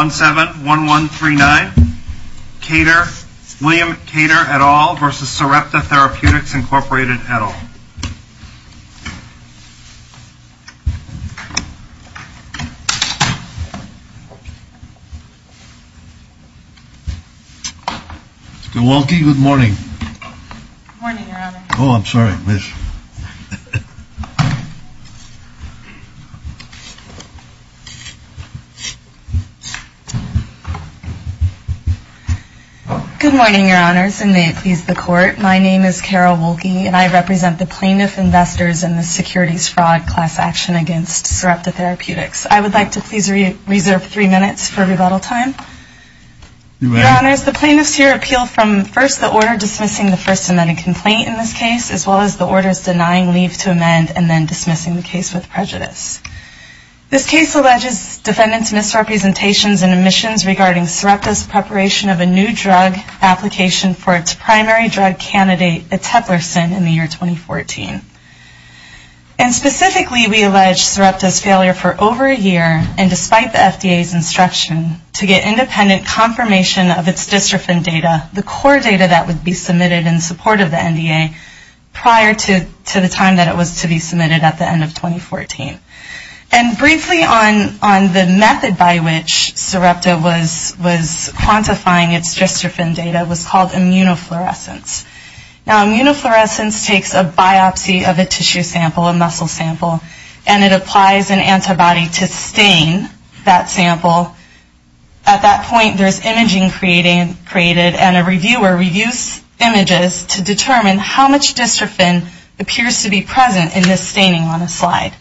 William Kader, et al. v. Sarepta Therapeutics, Inc., et al. Good morning. Good morning, Your Honor. Oh, I'm sorry, I missed. Good morning, Your Honors, and may it please the Court. My name is Carol Woelke, and I represent the Plaintiff Investors in the Securities Fraud Class Action against Sarepta Therapeutics. I would like to please reserve three minutes for rebuttal time. Your Honors, the Plaintiffs here appeal from, first, the order dismissing the first amended complaint in this case, as well as the orders denying leave to amend and then dismissing the case with prejudice. This case alleges defendants' misrepresentations and omissions regarding Sarepta's preparation of a new drug application for its primary drug candidate, eteplersen, in the year 2014. And specifically, we allege Sarepta's failure for over a year, and despite the FDA's instruction, to get independent confirmation of its dystrophin data, the core data that would be submitted in support of the NDA, prior to the time that it was to be submitted at the end of 2014. And briefly, on the method by which Sarepta was quantifying its dystrophin data was called immunofluorescence. Now, immunofluorescence takes a biopsy of a tissue sample, a muscle sample, and it applies an antibody to stain that sample. At that point, there's imaging created, and a reviewer reviews images to determine how much dystrophin appears to be present in this staining on a slide.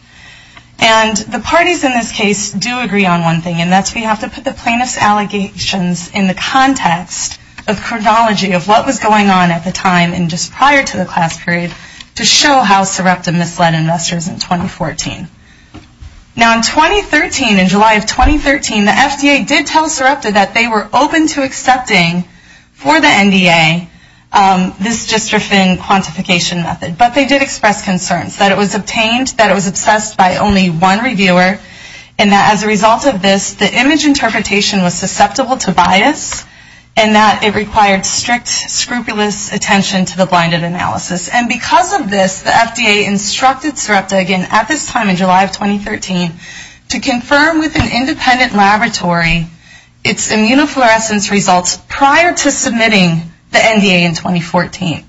And the parties in this case do agree on one thing, and that's we have to put the Plaintiffs' allegations in the context of chronology of what was going on at the time and just prior to the class period to show how Sarepta misled investors in 2014. Now, in 2013, in July of 2013, the FDA did tell Sarepta that they were open to accepting for the NDA this dystrophin quantification method, but they did express concerns that it was obtained, that it was assessed by only one reviewer, and that as a result of this, the image interpretation was susceptible to bias, and that it required strict, scrupulous attention to the blinded analysis. And because of this, the FDA instructed Sarepta again at this time in July of 2013 to confirm with an independent laboratory its immunofluorescence results prior to submitting the NDA in 2014.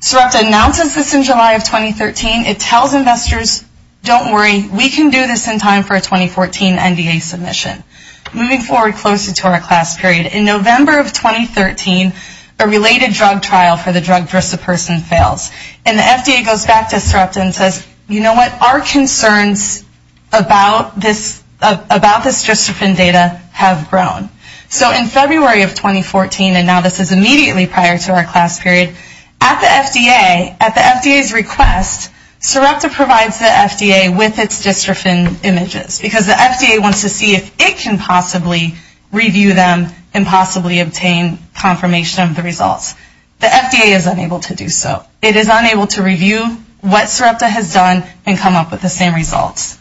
Sarepta announces this in July of 2013. It tells investors, don't worry, we can do this in time for a 2014 NDA submission. Moving forward closer to our class period, in November of 2013, a related drug trial for the drug Drisoperson fails, and the FDA goes back to Sarepta and says, you know what, our concerns about this dystrophin data have grown. So in February of 2014, and now this is immediately prior to our class period, at the FDA, at the FDA's request, Sarepta provides the FDA with its dystrophin images because the FDA wants to see if it can possibly review them and possibly obtain confirmation of the results. The FDA is unable to do so. It is unable to review what Sarepta has done and come up with the same results.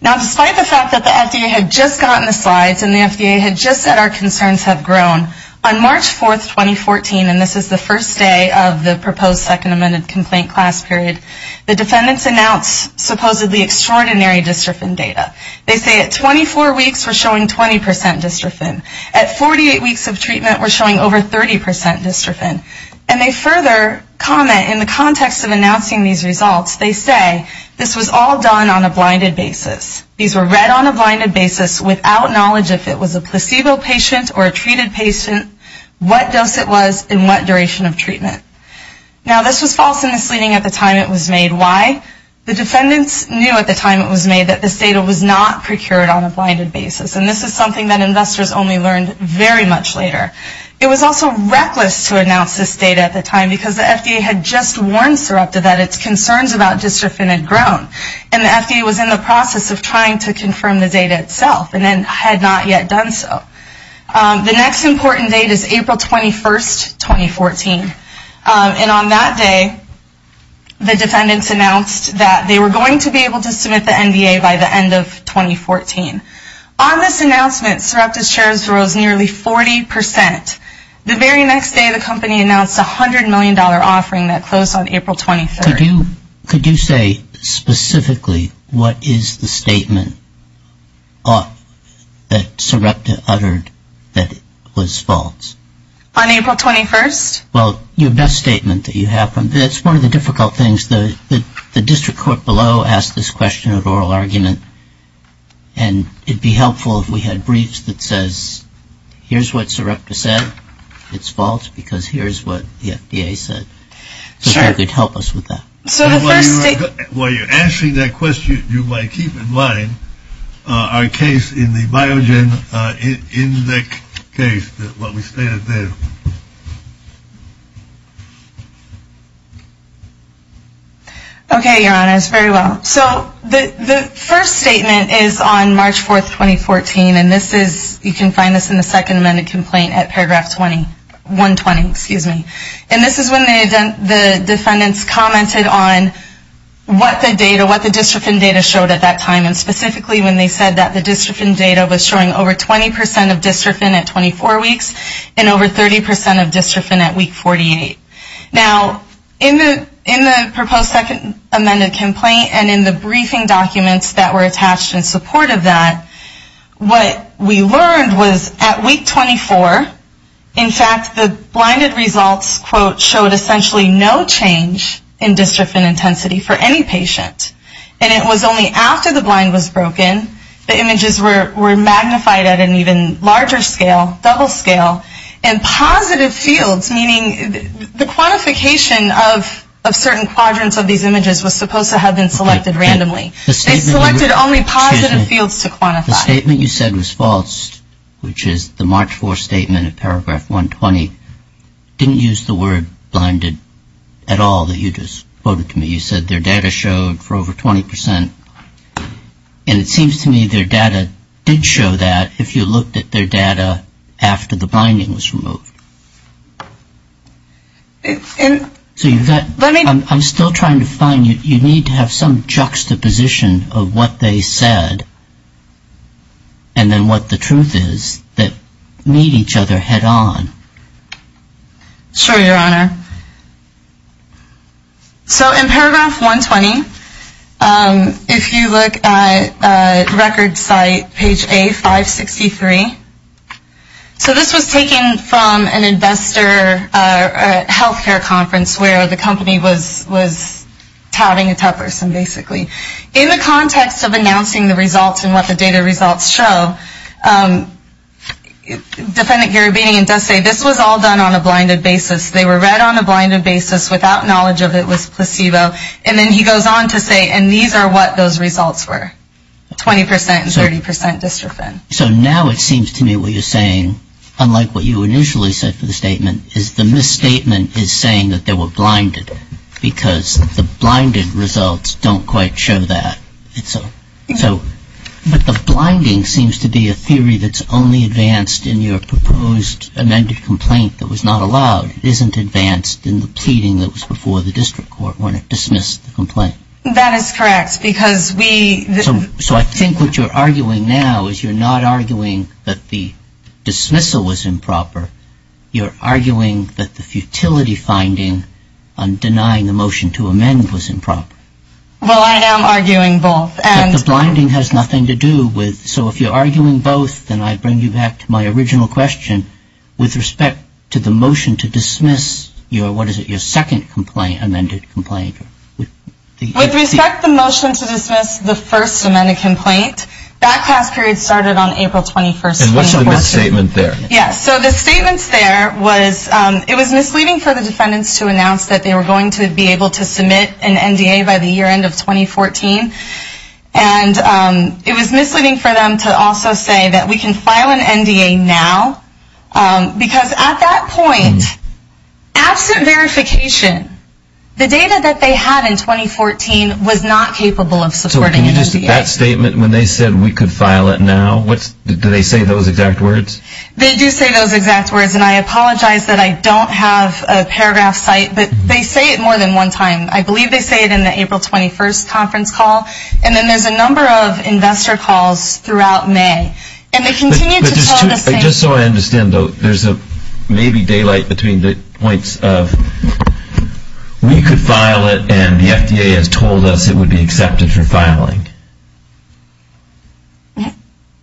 Now despite the fact that the FDA had just gotten the slides and the FDA had just said our concerns have grown, on March 4th, 2014, and this is the first day of the proposed second amended complaint class period, the defendants announce supposedly extraordinary dystrophin data. They say at 24 weeks we're showing 20% dystrophin. At 48 weeks of treatment we're showing over 30% dystrophin. And they further comment in the context of announcing these results, they say this was all done on a blinded basis. These were read on a blinded basis without knowledge if it was a placebo patient or a treated patient, what dose it was, and what duration of treatment. Now this was false misleading at the time it was made. Why? The defendants knew at the time it was made that this data was not procured on a blinded basis. And this is something that investors only learned very much later. It was also reckless to announce this data at the time because the FDA had just warned Sarepta that its concerns about dystrophin had grown and the FDA was in the process of trying to confirm the data itself and had not yet done so. The next important date is April 21st, 2014. And on that day the defendants announced that they were going to be able to submit the NDA by the end of 2014. On this announcement Sarepta's shares rose nearly 40%. The very next day the company announced a $100 million offering that closed on April 23rd. Could you say specifically what is the statement that Sarepta uttered that was false? On April 21st? Well, your best statement that you have. That's one of the difficult things. The district court below asked this question at oral argument. And it would be helpful if we had briefs that says here's what Sarepta said. It's false because here's what the FDA said. So if you could help us with that. While you're answering that question, you might keep in mind our case in the Biogen case, what we stated there. Okay, your honors, very well. So the first statement is on March 4th, 2014. And this is, you can find this in the second amended complaint at paragraph 120. Excuse me. And this is when the defendants commented on what the data, what the dystrophin data showed at that time. And specifically when they said that the dystrophin data was showing over 20% of dystrophin at 24 weeks. And over 30% of dystrophin at week 48. Now, in the proposed second amended complaint and in the briefing documents that were attached in support of that, what we learned was at week 24, in fact, the blinded results, quote, showed essentially no change in dystrophin intensity for any patient. And it was only after the blind was broken, the images were magnified at an even larger scale, double scale, and positive fields, meaning the quantification of certain quadrants of these images was supposed to have been selected randomly. They selected only positive fields to quantify. Excuse me. The statement you said was false, which is the March 4th statement at paragraph 120, didn't use the word blinded at all that you just quoted to me. You said their data showed for over 20%. And it seems to me their data did show that if you looked at their data after the blinding was removed. So I'm still trying to find, you need to have some juxtaposition of what they said and then what the truth is that made each other head on. Sure, Your Honor. So in paragraph 120, if you look at record site page A563, so this was taken from an investor health care conference where the company was touting a tough person basically. In the context of announcing the results and what the data results show, defendant Garabedian does say this was all done on a blinded basis. They were read on a blinded basis without knowledge of it was placebo. And then he goes on to say, and these are what those results were, 20% and 30% dystrophin. So now it seems to me what you're saying, unlike what you initially said for the statement, is the misstatement is saying that they were blinded because the blinded results don't quite show that. But the blinding seems to be a theory that's only advanced in your proposed amended complaint that was not allowed. It isn't advanced in the pleading that was before the district court when it dismissed the complaint. That is correct. So I think what you're arguing now is you're not arguing that the dismissal was improper. You're arguing that the futility finding on denying the motion to amend was improper. Well, I am arguing both. But the blinding has nothing to do with, so if you're arguing both, then I bring you back to my original question with respect to the motion to dismiss your, what is it, your second amended complaint. With respect to the motion to dismiss the first amended complaint, that pass period started on April 21st. And what's in the misstatement there? Yeah, so the statements there was, it was misleading for the defendants to announce that they were going to be able to submit an NDA by the year end of 2014. And it was misleading for them to also say that we can file an NDA now, because at that point, absent verification, the data that they had in 2014 was not capable of supporting an NDA. So can you just, that statement when they said we could file it now, do they say those exact words? They do say those exact words. And I apologize that I don't have a paragraph site, but they say it more than one time. I believe they say it in the April 21st conference call. And then there's a number of investor calls throughout May. Just so I understand, though, there's maybe daylight between the points of, we could file it and the FDA has told us it would be accepted for filing.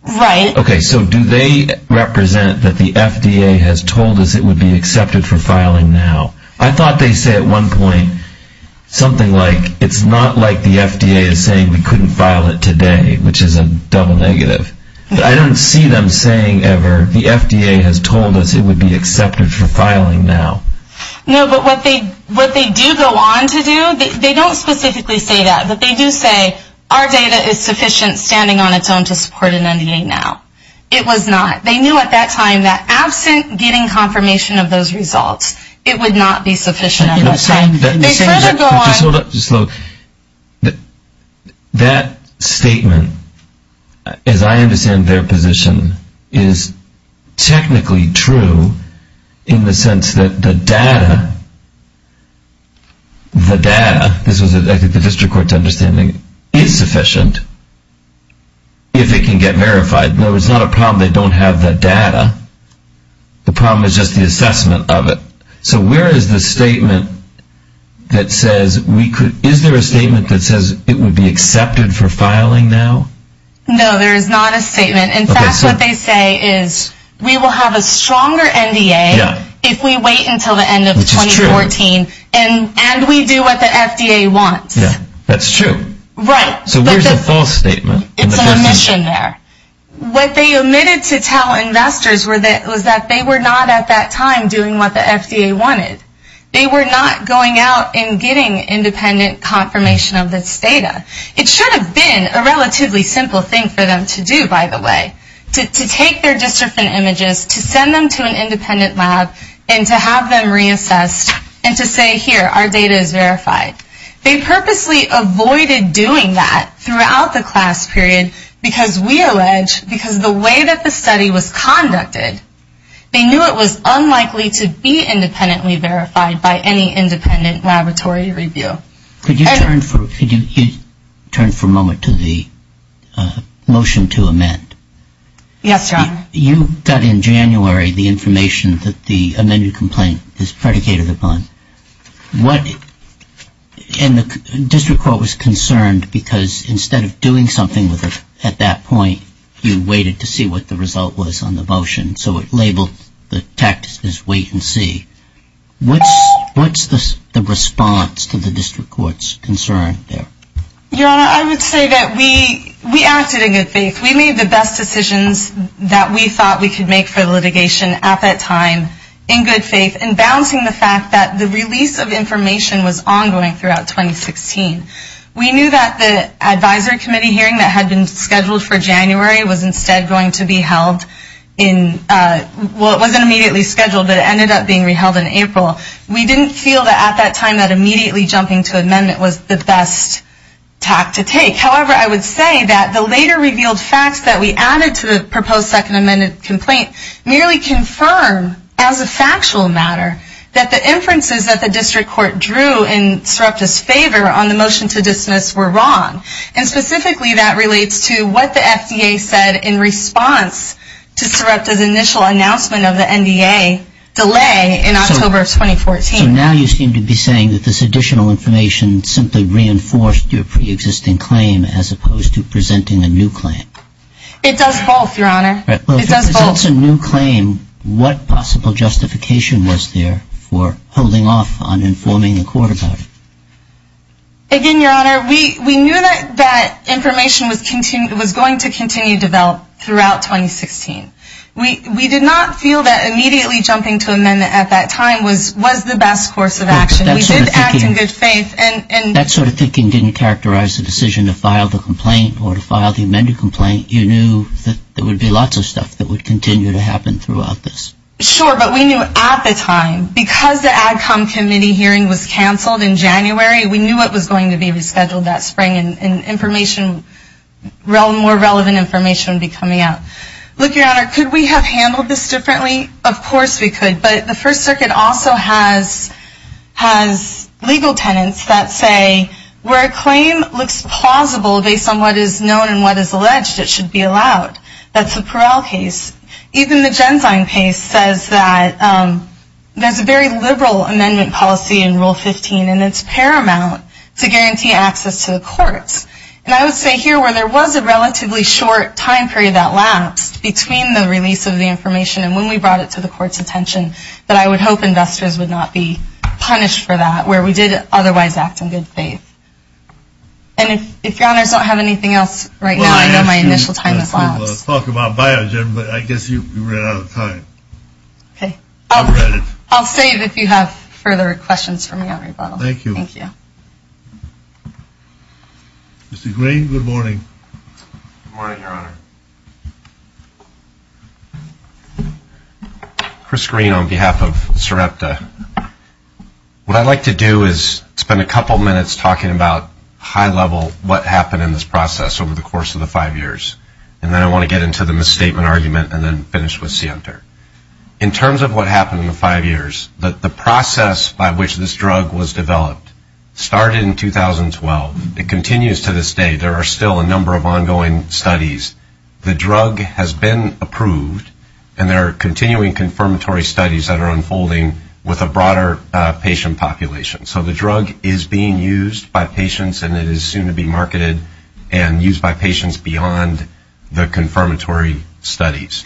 Right. Okay, so do they represent that the FDA has told us it would be accepted for filing now? I thought they say at one point something like, it's not like the FDA is saying we couldn't file it today, which is a double negative. I don't see them saying ever the FDA has told us it would be accepted for filing now. No, but what they do go on to do, they don't specifically say that, but they do say our data is sufficient standing on its own to support an NDA now. It was not. They knew at that time that absent getting confirmation of those results, it would not be sufficient at that time. Just hold up. That statement, as I understand their position, is technically true in the sense that the data, the data, this was the district court's understanding, is sufficient if it can get verified. No, it's not a problem they don't have the data. The problem is just the assessment of it. So where is the statement that says we could, is there a statement that says it would be accepted for filing now? No, there is not a statement. In fact, what they say is we will have a stronger NDA if we wait until the end of 2014, and we do what the FDA wants. That's true. Right. So where is the false statement? It's an omission there. What they omitted to tell investors was that they were not at that time doing what the FDA wanted. They were not going out and getting independent confirmation of this data. It should have been a relatively simple thing for them to do, by the way, to take their district images, to send them to an independent lab, and to have them reassessed and to say, here, our data is verified. They purposely avoided doing that throughout the class period because we allege, because the way that the study was conducted, they knew it was unlikely to be independently verified by any independent laboratory review. Could you turn for a moment to the motion to amend? Yes, John. You got in January the information that the amended complaint is predicated upon. And the district court was concerned because instead of doing something at that point, you waited to see what the result was on the motion. So it labeled the text as wait and see. What's the response to the district court's concern there? Your Honor, I would say that we acted in good faith. We made the best decisions that we thought we could make for litigation at that time in good faith in balancing the fact that the release of information was ongoing throughout 2016. We knew that the advisory committee hearing that had been scheduled for January was instead going to be held in, well, it wasn't immediately scheduled, but it ended up being reheld in April. We didn't feel that at that time that immediately jumping to amendment was the best tack to take. However, I would say that the later revealed facts that we added to the proposed second amended complaint merely confirm as a factual matter that the inferences that the district court drew in Sarepta's favor on the motion to dismiss were wrong. And specifically that relates to what the FDA said in response to Sarepta's initial announcement of the NDA delay in October of 2014. So now you seem to be saying that this additional information simply reinforced your preexisting claim as opposed to presenting a new claim. It does both, Your Honor. It does both. So what's a new claim? What possible justification was there for holding off on informing the court about it? Again, Your Honor, we knew that that information was going to continue to develop throughout 2016. We did not feel that immediately jumping to amendment at that time was the best course of action. We did act in good faith. That sort of thinking didn't characterize the decision to file the complaint or to file the amended complaint. You knew that there would be lots of stuff that would continue to happen throughout this. Sure, but we knew at the time. Because the ADCOMM committee hearing was canceled in January, we knew it was going to be rescheduled that spring and more relevant information would be coming out. Look, Your Honor, could we have handled this differently? Of course we could, but the First Circuit also has legal tenants that say where a claim looks plausible based on what is known and what is alleged, it should be allowed. That's the Peral case. Even the Genzyme case says that there's a very liberal amendment policy in Rule 15 and it's paramount to guarantee access to the courts. And I would say here where there was a relatively short time period that lapsed between the release of the information and when we brought it to the court's attention, that I would hope investors would not be punished for that, where we did otherwise act in good faith. And if Your Honors don't have anything else right now, I know my initial time has lapsed. Well, I asked you to talk about Biogen, but I guess you ran out of time. Okay. I'll save if you have further questions for me, Your Honor. Thank you. Thank you. Mr. Green, good morning. Good morning, Your Honor. Chris Green on behalf of SREPTA. What I'd like to do is spend a couple minutes talking about high level what happened in this process over the course of the five years. And then I want to get into the misstatement argument and then finish with Sienter. In terms of what happened in the five years, the process by which this drug was developed started in 2012. It continues to this day. There are still a number of ongoing studies. The drug has been approved, and there are continuing confirmatory studies that are unfolding with a broader patient population. So the drug is being used by patients, and it is soon to be marketed and used by patients beyond the confirmatory studies.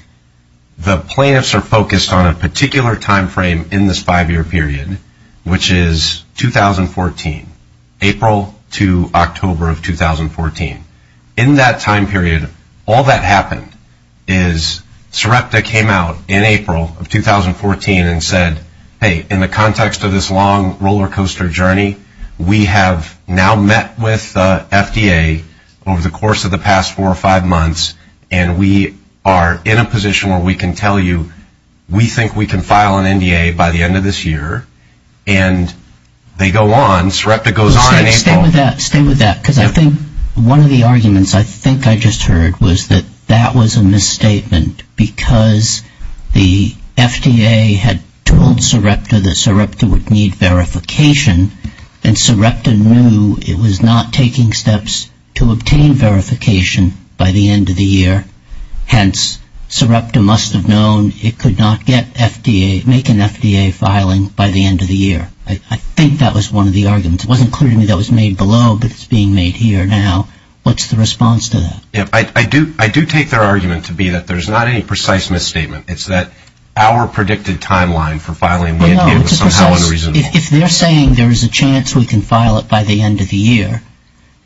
The plaintiffs are focused on a particular time frame in this five-year period, which is 2014, April to October of 2014. In that time period, all that happened is SREPTA came out in April of 2014 and said, hey, in the context of this long roller coaster journey, we have now met with FDA over the course of the past four or five months, and we are in a position where we can tell you we think we can file an NDA by the end of this year, and they go on. SREPTA goes on in April. Stay with that. Stay with that. One of the arguments I think I just heard was that that was a misstatement because the FDA had told SREPTA that SREPTA would need verification, and SREPTA knew it was not taking steps to obtain verification by the end of the year. Hence, SREPTA must have known it could not make an FDA filing by the end of the year. I think that was one of the arguments. It wasn't clear to me that was made below, but it's being made here now. What's the response to that? I do take their argument to be that there's not any precise misstatement. It's that our predicted timeline for filing the NDA was somehow unreasonable. If they're saying there's a chance we can file it by the end of the year,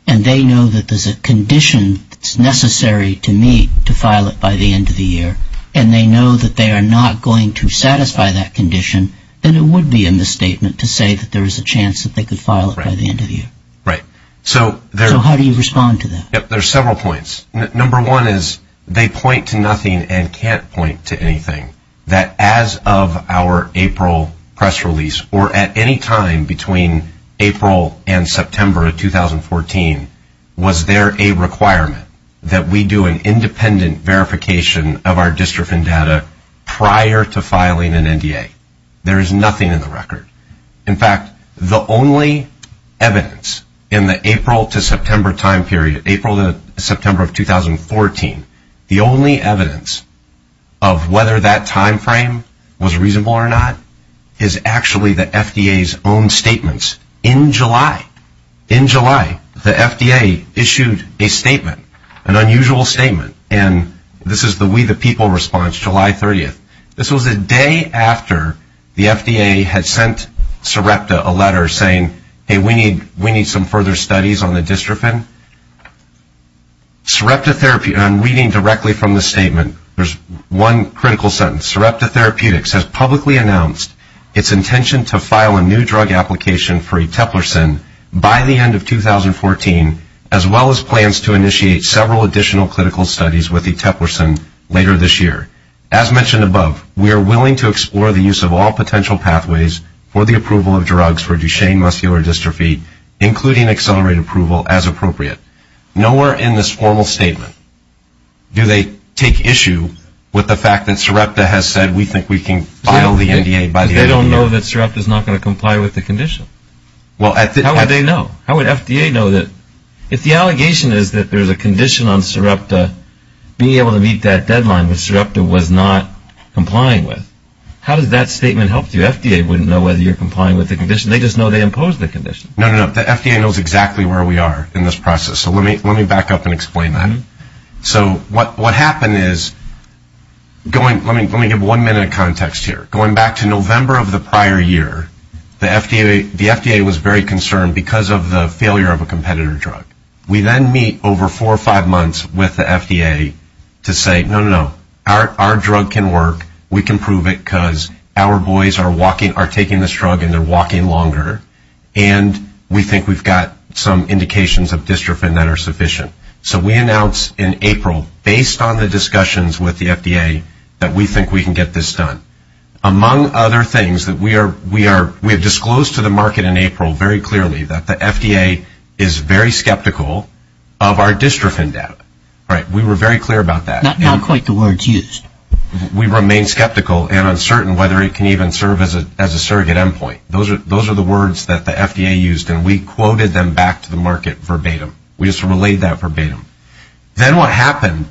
and they know that there's a condition that's necessary to meet to file it by the end of the year, and they know that they are not going to satisfy that condition, then it would be a misstatement to say that there's a chance that they could file it by the end of the year. Right. So how do you respond to that? There are several points. Number one is they point to nothing and can't point to anything. Number two is they can't point to anything that as of our April press release, or at any time between April and September of 2014, was there a requirement that we do an independent verification of our dystrophin data prior to filing an NDA? There is nothing in the record. In fact, the only evidence in the April to September time period, April to September of 2014, the only evidence of whether that time frame was reasonable or not is actually the FDA's own statements in July. In July, the FDA issued a statement, an unusual statement, and this is the We the People response, July 30th. This was a day after the FDA had sent Sarepta a letter saying, hey, we need some further studies on the dystrophin. Sarepta Therapeutics, and I'm reading directly from the statement, there's one critical sentence. Sarepta Therapeutics has publicly announced its intention to file a new drug application for Eteplersen by the end of 2014, as well as plans to initiate several additional clinical studies with Eteplersen later this year. As mentioned above, we are willing to explore the use of all potential pathways for the approval of drugs for Duchenne muscular dystrophy, including accelerated approval, as appropriate. Nowhere in this formal statement do they take issue with the fact that Sarepta has said we think we can file the NDA. They don't know that Sarepta is not going to comply with the condition. How would they know? If the allegation is that there's a condition on Sarepta, being able to meet that deadline that Sarepta was not complying with, how does that statement help you? FDA wouldn't know whether you're complying with the condition. They just know they imposed the condition. No, no, no. The FDA knows exactly where we are in this process, so let me back up and explain that. So what happened is, let me give one minute of context here. Going back to November of the prior year, the FDA was very concerned because of the failure of a competitor drug. We then meet over four or five months with the FDA to say, no, no, no. Our drug can work. We can prove it because our boys are taking this drug and they're walking longer, and we think we've got some indications of dystrophin that are sufficient. So we announced in April, based on the discussions with the FDA, that we think we can get this done. Among other things, we have disclosed to the market in April very clearly that the FDA is very skeptical of our dystrophin data. We were very clear about that. Not quite the words used. We remain skeptical and uncertain whether it can even serve as a surrogate endpoint. Those are the words that the FDA used, and we quoted them back to the market verbatim. We just relayed that verbatim. Then what happened,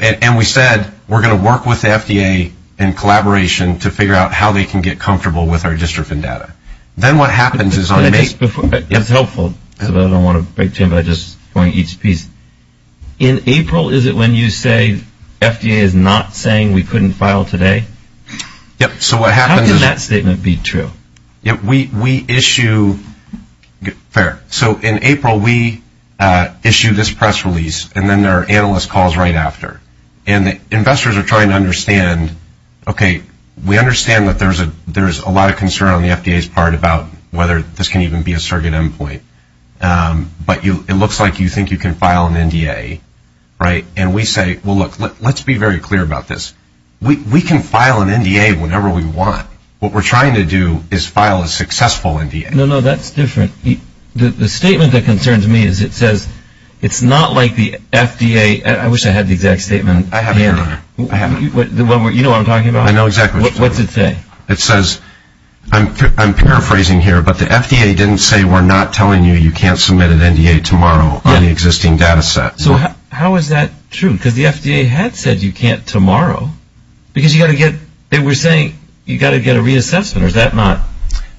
and we said, we're going to work with the FDA in collaboration to figure out how they can get comfortable with our dystrophin data. Then what happens is on May... It's helpful, but I don't want to break time by just going each piece. In April, is it when you say FDA is not saying we couldn't file today? Yep, so what happens is... How can that statement be true? We issue... Fair. In April, we issue this press release, and then there are analyst calls right after. Investors are trying to understand, okay, we understand that there's a lot of concern on the FDA's part about whether this can even be a surrogate endpoint, but it looks like you think you can file an NDA. We say, well, look, let's be very clear about this. We can file an NDA whenever we want. What we're trying to do is file a successful NDA. No, no, that's different. The statement that concerns me is it says it's not like the FDA... I wish I had the exact statement handy. I have it here. You know what I'm talking about? I know exactly what you're talking about. What's it say? It says, I'm paraphrasing here, but the FDA didn't say we're not telling you you can't submit an NDA tomorrow on the existing data set. So how is that true? Because the FDA had said you can't tomorrow because you've got to get... They were saying you've got to get a reassessment, or is that not...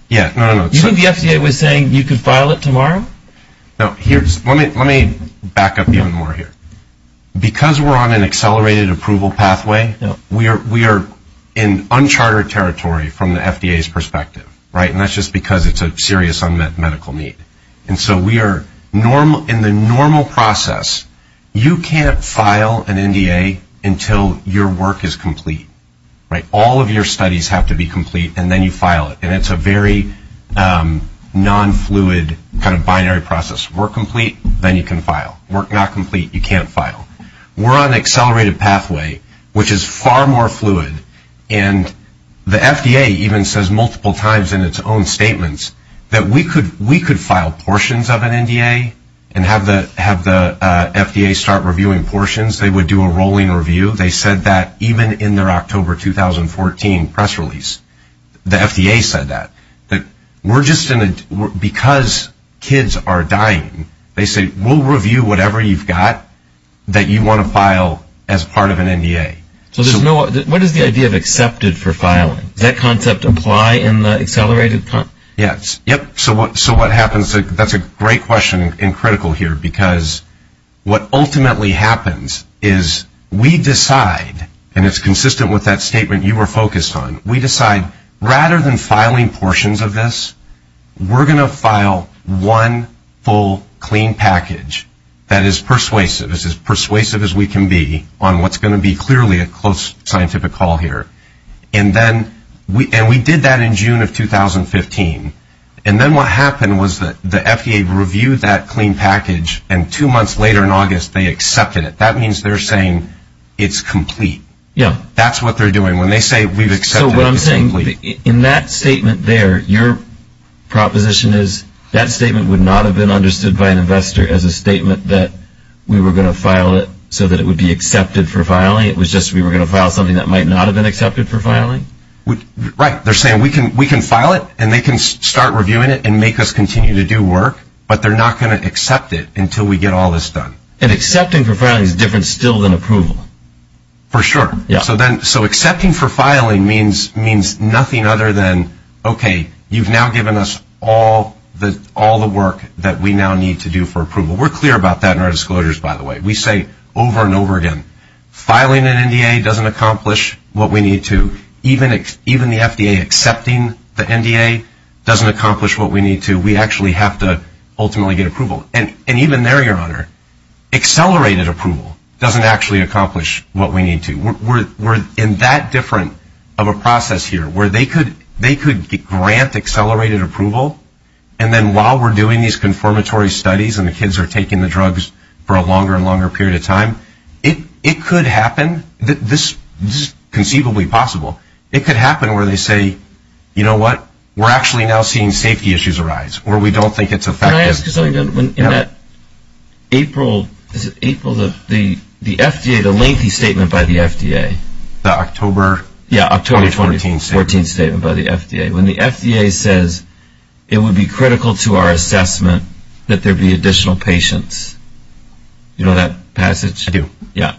Yeah, no, no, no. You think the FDA was saying you could file it tomorrow? No, here's... Let me back up even more here. Because we're on an accelerated approval pathway, we are in uncharted territory from the FDA's perspective, right? And that's just because it's a serious unmet medical need. And so we are in the normal process. You can't file an NDA until your work is complete, right? All of your studies have to be complete, and then you file it. And it's a very non-fluid kind of binary process. Work complete, then you can file. Work not complete, you can't file. We're on an accelerated pathway, which is far more fluid. And the FDA even says multiple times in its own statements that we could file portions of an NDA and have the FDA start reviewing portions. They would do a rolling review. They said that even in their October 2014 press release. The FDA said that. We're just in a... Because kids are dying, they say, we'll review whatever you've got that you want to file as part of an NDA. So there's no... What is the idea of accepted for filing? Does that concept apply in the accelerated? Yes. Yep. So what happens... That's a great question and critical here because what ultimately happens is we decide, and it's consistent with that statement you were focused on, we decide rather than filing portions of this, we're going to file one full clean package that is persuasive. It's as persuasive as we can be on what's going to be clearly a close scientific call here. And we did that in June of 2015. And then what happened was the FDA reviewed that clean package, and two months later in August they accepted it. That means they're saying it's complete. Yeah. That's what they're doing. When they say we've accepted... So what I'm saying, in that statement there, your proposition is that statement would not have been understood by an investor as a statement that we were going to file it so that it would be accepted for filing. It was just we were going to file something that might not have been accepted for filing? Right. They're saying we can file it and they can start reviewing it and make us continue to do work, but they're not going to accept it until we get all this done. And accepting for filing is different still than approval. For sure. So accepting for filing means nothing other than, okay, you've now given us all the work that we now need to do for approval. We're clear about that in our disclosures, by the way. We say over and over again, filing an NDA doesn't accomplish what we need to. Even the FDA accepting the NDA doesn't accomplish what we need to. We actually have to ultimately get approval. And even there, Your Honor, accelerated approval doesn't actually accomplish what we need to. We're in that different of a process here where they could grant accelerated approval and then while we're doing these confirmatory studies and the kids are taking the drugs for a longer and longer period of time, it could happen, this is conceivably possible, it could happen where they say, you know what, we're actually now seeing safety issues arise where we don't think it's effective. Can I ask you something? In that April, is it April? The FDA, the lengthy statement by the FDA. The October? Yeah, October 2014 statement by the FDA. When the FDA says it would be critical to our assessment that there be additional patients. You know that passage? I do. Yeah.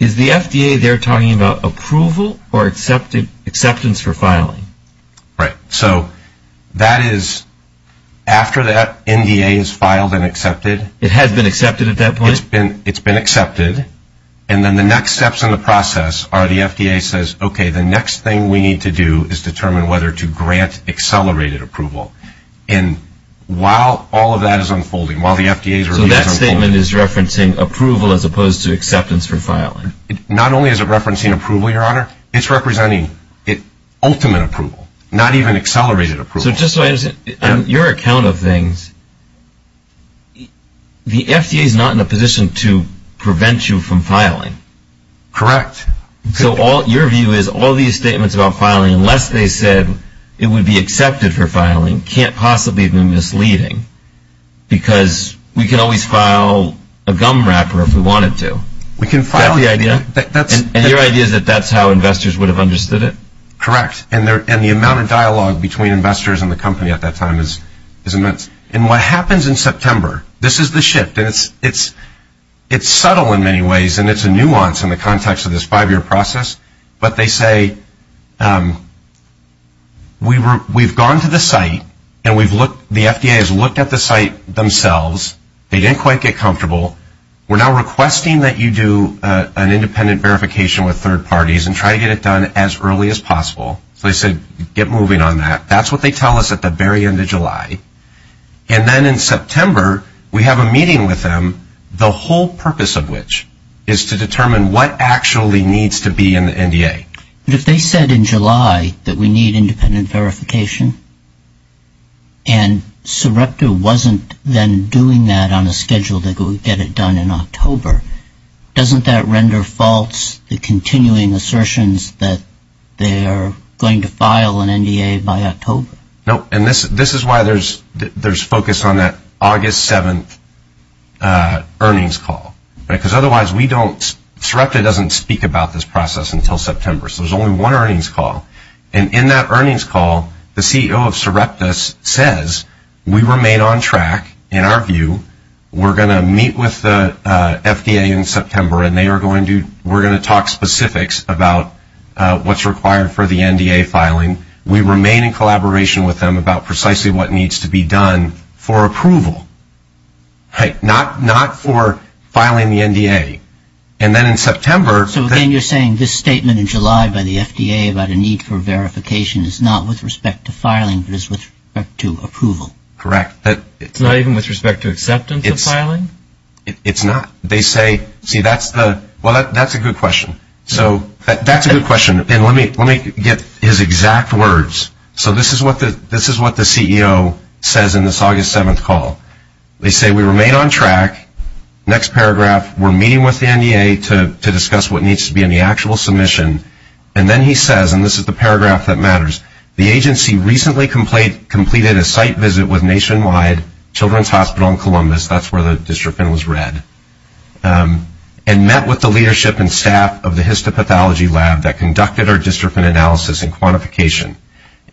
Is the FDA there talking about approval or acceptance for filing? Right. So that is after that NDA is filed and accepted. It has been accepted at that point? It's been accepted. And then the next steps in the process are the FDA says, okay, the next thing we need to do is determine whether to grant accelerated approval. And while all of that is unfolding, while the FDA is already unfolding. So that statement is referencing approval as opposed to acceptance for filing? Not only is it referencing approval, Your Honor, it's representing ultimate approval, not even accelerated approval. So just so I understand, on your account of things, the FDA is not in a position to prevent you from filing? Correct. So your view is all these statements about filing, unless they said it would be accepted for filing, can't possibly be misleading? Because we can always file a gum wrapper if we wanted to. We can file. Is that the idea? And your idea is that that's how investors would have understood it? Correct. And the amount of dialogue between investors and the company at that time is immense. And what happens in September, this is the shift. It's subtle in many ways, and it's a nuance in the context of this five-year process. But they say, we've gone to the site, and the FDA has looked at the site themselves. They didn't quite get comfortable. We're now requesting that you do an independent verification with third parties and try to get it done as early as possible. So they said, get moving on that. That's what they tell us at the very end of July. And then in September, we have a meeting with them, the whole purpose of which is to determine what actually needs to be in the NDA. But if they said in July that we need independent verification and Surepta wasn't then doing that on a schedule that would get it done in October, doesn't that render false the continuing assertions that they're going to file an NDA by October? No, and this is why there's focus on that August 7th earnings call. Because otherwise, Surepta doesn't speak about this process until September. So there's only one earnings call. And in that earnings call, the CEO of Surepta says, we remain on track, in our view. We're going to meet with the FDA in September, and we're going to talk specifics about what's required for the NDA filing. We remain in collaboration with them about precisely what needs to be done for approval, not for filing the NDA. And then in September. So again, you're saying this statement in July by the FDA about a need for verification is not with respect to filing, but is with respect to approval. Correct. It's not even with respect to acceptance of filing? It's not. They say, see, that's a good question. So that's a good question. And let me get his exact words. So this is what the CEO says in this August 7th call. They say, we remain on track. Next paragraph, we're meeting with the NDA to discuss what needs to be in the actual submission. And then he says, and this is the paragraph that matters, the agency recently completed a site visit with Nationwide Children's Hospital in Columbus, that's where the dystrophin was read, and met with the leadership and staff of the histopathology lab that conducted our dystrophin analysis and quantification.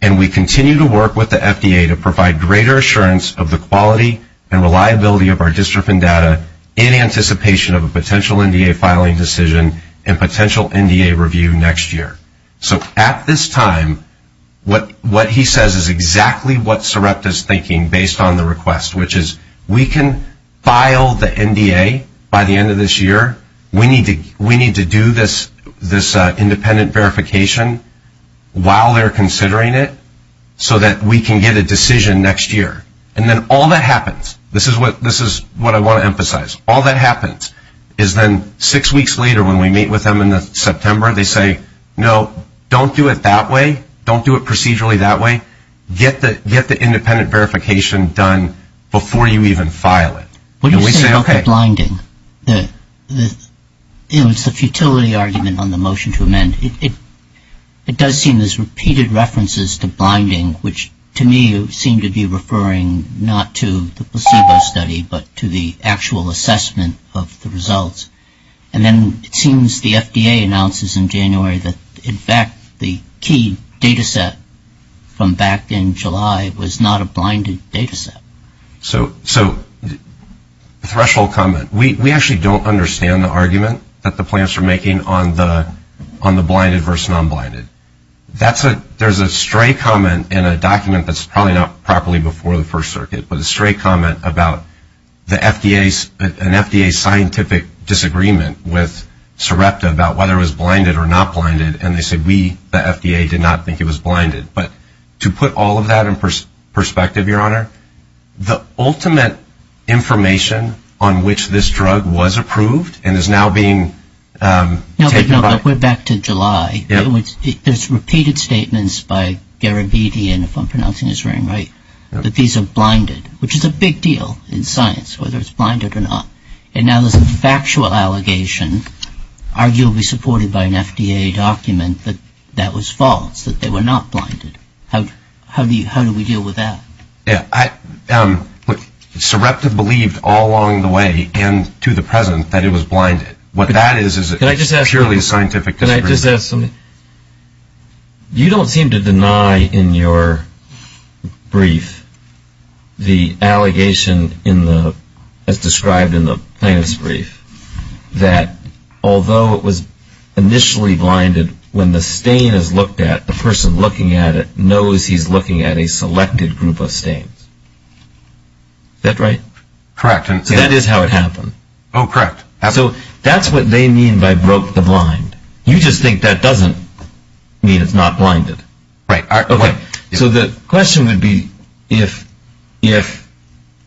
And we continue to work with the FDA to provide greater assurance of the quality and reliability of our dystrophin data in anticipation of a potential NDA filing decision and potential NDA review next year. So at this time, what he says is exactly what Sarepta's thinking based on the request, which is we can file the NDA by the end of this year. We need to do this independent verification while they're considering it so that we can get a decision next year. And then all that happens, this is what I want to emphasize, all that happens is then six weeks later when we meet with them in September, they say, no, don't do it that way. Don't do it procedurally that way. Get the independent verification done before you even file it. And we say, okay. What do you say about the blinding? You know, it's the futility argument on the motion to amend. It does seem there's repeated references to blinding, which to me seem to be referring not to the placebo study but to the actual assessment of the results. And then it seems the FDA announces in January that, in fact, the key data set from back in July was not a blinded data set. So threshold comment. We actually don't understand the argument that the plans are making on the blinded versus non-blinded. There's a stray comment in a document that's probably not properly before the First Circuit, but a stray comment about an FDA scientific disagreement with Sarepta about whether it was blinded or not blinded, and they said we, the FDA, did not think it was blinded. But to put all of that in perspective, Your Honor, the ultimate information on which this drug was approved and is now being taken by- No, but back to July. There's repeated statements by Garabedian, if I'm pronouncing his name right, that these are blinded, which is a big deal in science, whether it's blinded or not. And now there's a factual allegation, arguably supported by an FDA document, that that was false, that they were not blinded. How do we deal with that? Sarepta believed all along the way and to the present that it was blinded. What that is is purely a scientific disagreement. Can I just ask something? You don't seem to deny in your brief the allegation as described in the plaintiff's brief that although it was initially blinded, when the stain is looked at, the person looking at it knows he's looking at a selected group of stains. Is that right? Correct. So that is how it happened. Oh, correct. So that's what they mean by broke the blind. You just think that doesn't mean it's not blinded. Right. So the question would be if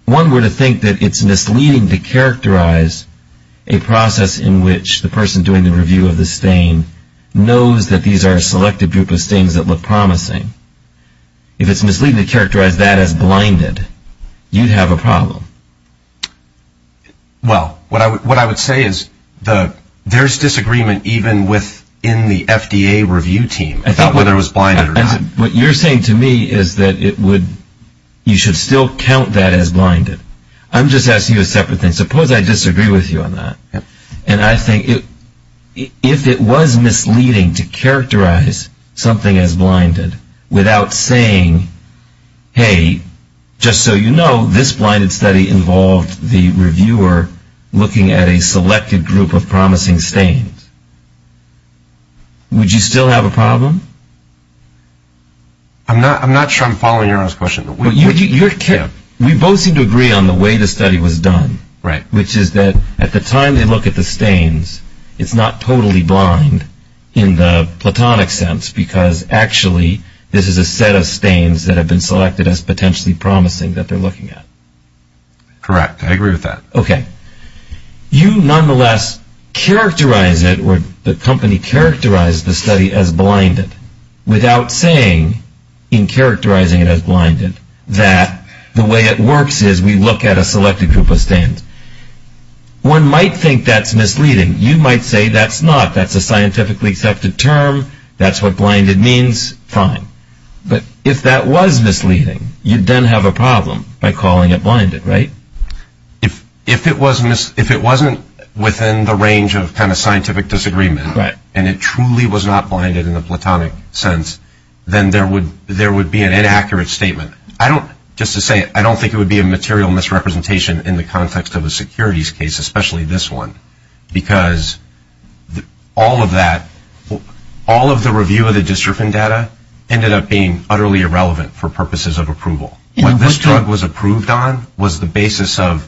one were to think that it's misleading to characterize a process in which the person doing the review of the stain knows that these are a selected group of stains that look promising, if it's misleading to characterize that as blinded, you'd have a problem. Well, what I would say is there's disagreement even within the FDA review team about whether it was blinded or not. What you're saying to me is that you should still count that as blinded. I'm just asking you a separate thing. Suppose I disagree with you on that. And I think if it was misleading to characterize something as blinded without saying, hey, just so you know, this blinded study involved the reviewer looking at a selected group of promising stains. Would you still have a problem? I'm not sure I'm following your last question. We both seem to agree on the way the study was done. Right. Which is that at the time they look at the stains, it's not totally blind in the platonic sense because actually this is a set of stains that have been selected as potentially promising that they're looking at. Correct. I agree with that. Okay. You nonetheless characterize it or the company characterized the study as blinded without saying in characterizing it as blinded that the way it works is we look at a selected group of stains. One might think that's misleading. You might say that's not. That's a scientifically accepted term. That's what blinded means. Fine. But if that was misleading, you'd then have a problem by calling it blinded, right? If it wasn't within the range of kind of scientific disagreement and it truly was not blinded in the platonic sense, then there would be an inaccurate statement. Just to say, I don't think it would be a material misrepresentation in the context of a securities case, especially this one, because all of that, all of the review of the dystrophin data, ended up being utterly irrelevant for purposes of approval. What this drug was approved on was the basis of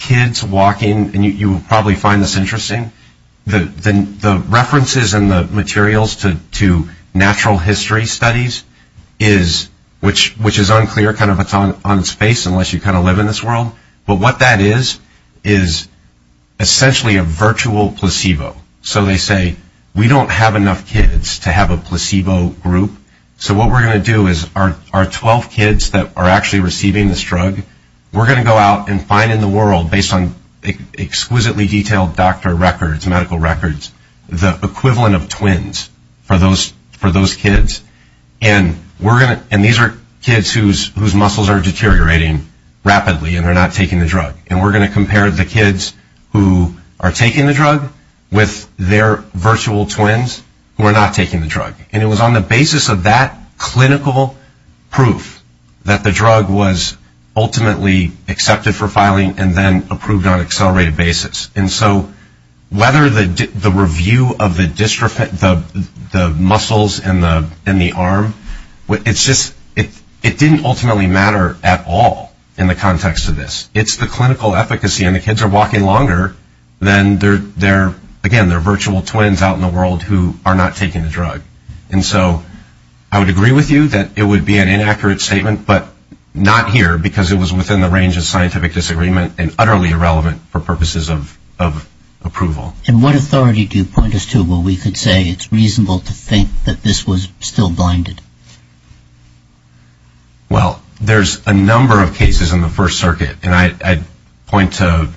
kids walking, and you will probably find this interesting, the references and the materials to natural history studies, which is unclear kind of on its face unless you kind of live in this world, but what that is is essentially a virtual placebo. So they say, we don't have enough kids to have a placebo group, so what we're going to do is our 12 kids that are actually receiving this drug, we're going to go out and find in the world, based on exquisitely detailed doctor records, medical records, the equivalent of twins for those kids. And these are kids whose muscles are deteriorating rapidly and are not taking the drug, and we're going to compare the kids who are taking the drug with their virtual twins who are not taking the drug. And it was on the basis of that clinical proof that the drug was ultimately accepted for filing and then approved on an accelerated basis. And so whether the review of the muscles in the arm, it didn't ultimately matter at all in the context of this. It's the clinical efficacy, and the kids are walking longer than their, again, their virtual twins out in the world who are not taking the drug. And so I would agree with you that it would be an inaccurate statement, but not here because it was within the range of scientific disagreement and utterly irrelevant for purposes of approval. And what authority do you point us to where we could say it's reasonable to think that this was still blinded? Well, there's a number of cases in the First Circuit, and I'd point to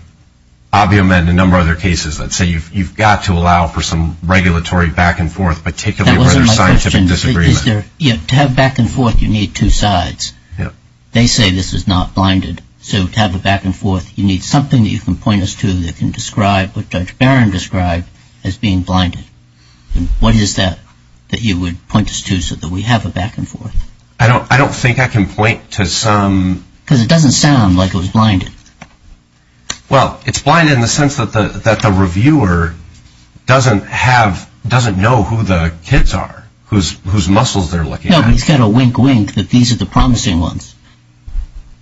Ovium and a number of other cases that say you've got to allow for some regulatory back-and-forth, particularly where there's scientific disagreement. That wasn't my question. To have back-and-forth, you need two sides. They say this is not blinded, so to have a back-and-forth, you need something that you can point us to that can describe what Judge Barron described as being blinded. What is that that you would point us to so that we have a back-and-forth? I don't think I can point to some... Because it doesn't sound like it was blinded. Well, it's blinded in the sense that the reviewer doesn't know who the kids are, whose muscles they're looking at. No, but he's got a wink-wink that these are the promising ones.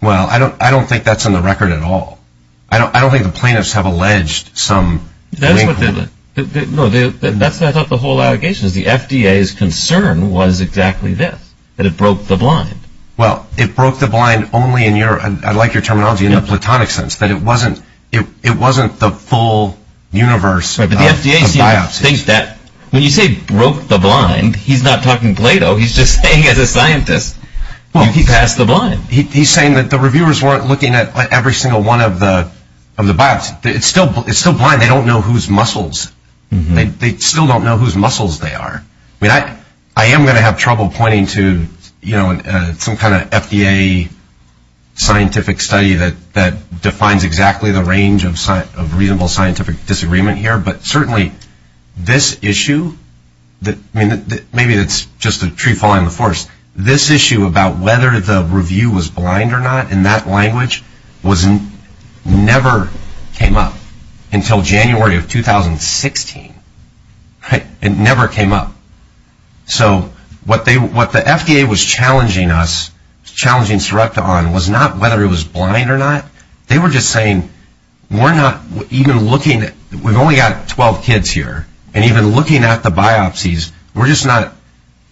Well, I don't think that's in the record at all. I don't think the plaintiffs have alleged some wink-wink. That's what the whole allegation is. The FDA's concern was exactly this, that it broke the blind. Well, it broke the blind only in your, I like your terminology, in a platonic sense, that it wasn't the full universe of biopsies. But the FDA thinks that when you say broke the blind, he's not talking Plato. He's just saying as a scientist, you passed the blind. He's saying that the reviewers weren't looking at every single one of the biopsies. It's still blind. They don't know whose muscles. They still don't know whose muscles they are. I am going to have trouble pointing to some kind of FDA scientific study that defines exactly the range of reasonable scientific disagreement here, but certainly this issue, maybe it's just a tree falling in the forest, this issue about whether the review was blind or not in that language never came up until January of 2016. It never came up. So what the FDA was challenging us, challenging Surepta on, was not whether it was blind or not. They were just saying, we're not even looking at, we've only got 12 kids here, and even looking at the biopsies, we're just not,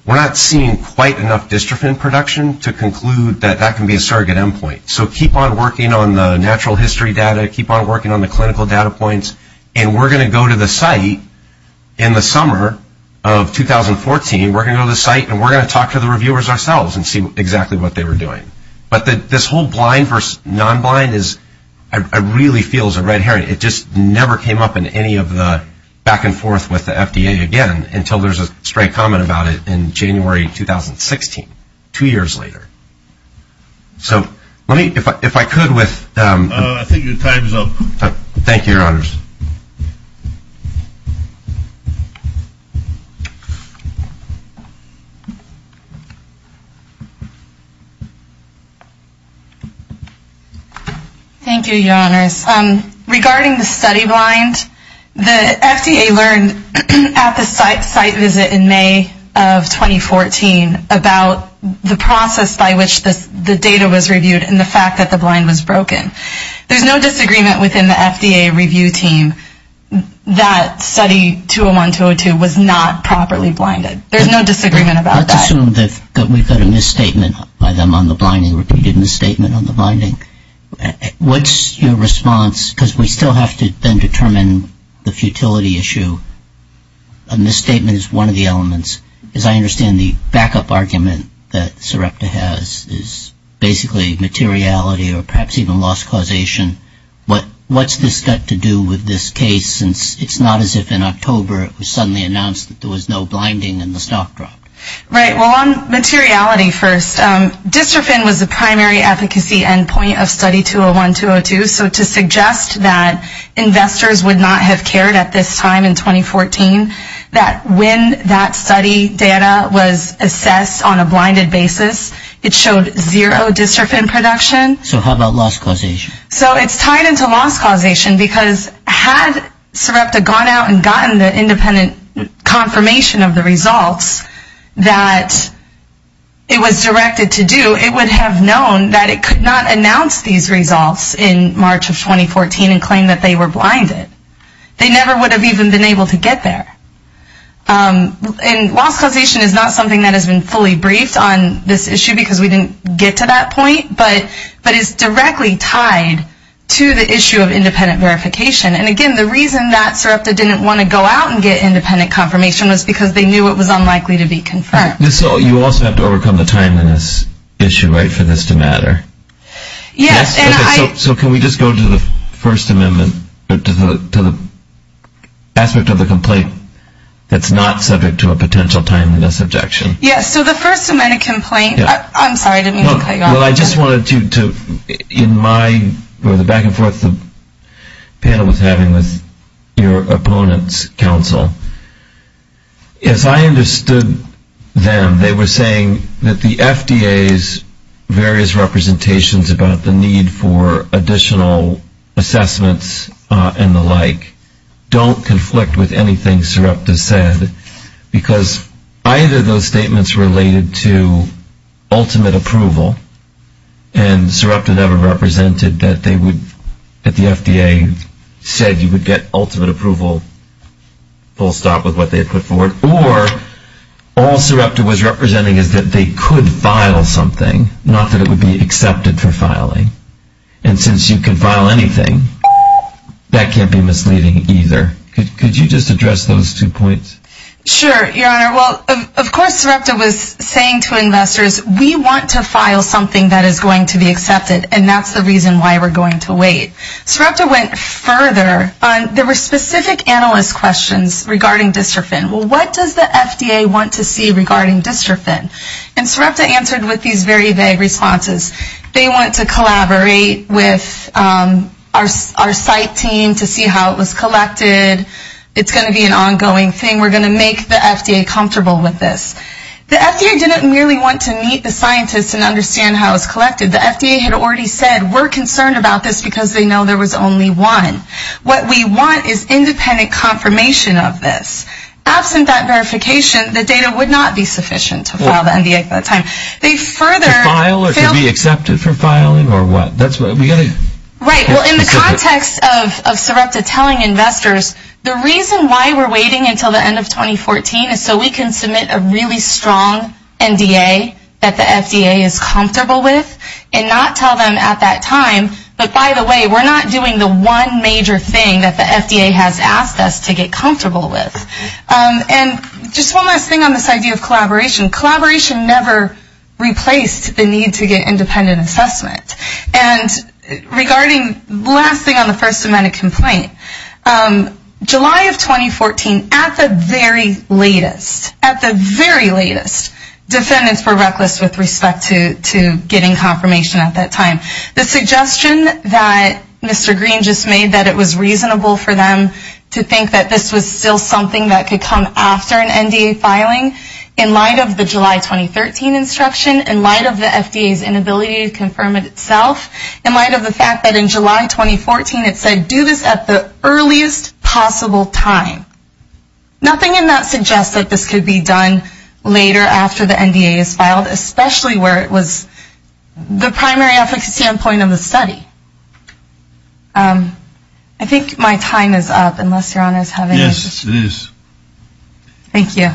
we're not seeing quite enough dystrophin production to conclude that that can be a surrogate endpoint. So keep on working on the natural history data. Keep on working on the clinical data points. And we're going to go to the site in the summer of 2014, we're going to go to the site and we're going to talk to the reviewers ourselves and see exactly what they were doing. But this whole blind versus non-blind is, it really feels a red herring. It just never came up in any of the back and forth with the FDA again until there's a straight comment about it in January 2016, two years later. So let me, if I could with. I think your time is up. Thank you, Your Honors. Thank you, Your Honors. Regarding the study blind, the FDA learned at the site visit in May of 2014 about the process by which the data was reviewed and the fact that the blind was broken. There's no disagreement within the FDA review team that study 201-202 was not properly blinded. There's no disagreement about that. Let's assume that we've got a misstatement by them on the blinding, repeated misstatement on the blinding. What's your response? Because we still have to then determine the futility issue. A misstatement is one of the elements. As I understand the backup argument that Sarepta has is basically materiality or perhaps even loss causation. What's this got to do with this case since it's not as if in October it was suddenly announced that there was no blinding and the stock dropped? Right, well, on materiality first, dystrophin was the primary efficacy endpoint of study 201-202. So to suggest that investors would not have cared at this time in 2014, that when that study data was assessed on a blinded basis, it showed zero dystrophin production. So how about loss causation? So it's tied into loss causation because had Sarepta gone out and gotten the independent confirmation of the results that it was directed to do, it would have known that it could not announce these results in March of 2014 and claim that they were blinded. They never would have even been able to get there. And loss causation is not something that has been fully briefed on this issue because we didn't get to that point, but it's directly tied to the issue of independent verification. And, again, the reason that Sarepta didn't want to go out and get independent confirmation was because they knew it was unlikely to be confirmed. So you also have to overcome the timeliness issue, right, for this to matter? Yes. So can we just go to the First Amendment, to the aspect of the complaint that's not subject to a potential timeliness objection? Yes. So the First Amendment complaint, I'm sorry, I didn't mean to cut you off. Well, I just wanted to, in my, or the back and forth the panel was having with your opponent's counsel, as I understood them, they were saying that the FDA's various representations about the need for additional assessments and the like don't conflict with anything Sarepta said because either those statements related to ultimate approval, and Sarepta never represented that they would, that the FDA said you would get ultimate approval, full stop with what they had put forward, or all Sarepta was representing is that they could file something, not that it would be accepted for filing. And since you can file anything, that can't be misleading either. Could you just address those two points? Sure, Your Honor. Well, of course, Sarepta was saying to investors, we want to file something that is going to be accepted, and that's the reason why we're going to wait. Sarepta went further. There were specific analyst questions regarding dystrophin. Well, what does the FDA want to see regarding dystrophin? And Sarepta answered with these very vague responses. They want to collaborate with our site team to see how it was collected, it's going to be an ongoing thing, we're going to make the FDA comfortable with this. The FDA didn't merely want to meet the scientists and understand how it was collected. The FDA had already said we're concerned about this because they know there was only one. What we want is independent confirmation of this. Absent that verification, the data would not be sufficient to file the NDA at that time. To file or to be accepted for filing or what? Right. Well, in the context of Sarepta telling investors, the reason why we're waiting until the end of 2014 is so we can submit a really strong NDA that the FDA is comfortable with and not tell them at that time, but by the way, we're not doing the one major thing that the FDA has asked us to get comfortable with. And just one last thing on this idea of collaboration. Collaboration never replaced the need to get independent assessment. And regarding the last thing on the first amendment complaint, July of 2014 at the very latest, at the very latest, defendants were reckless with respect to getting confirmation at that time. The suggestion that Mr. Green just made that it was reasonable for them to think that this was still something that could come after an NDA filing in light of the July 2013 instruction, in light of the FDA's inability to confirm it itself, in light of the fact that in July 2014 it said, do this at the earliest possible time. Nothing in that suggests that this could be done later after the NDA is filed, especially where it was the primary efficacy standpoint of the study. I think my time is up, unless Your Honor is having issues. Yes, it is. Thank you.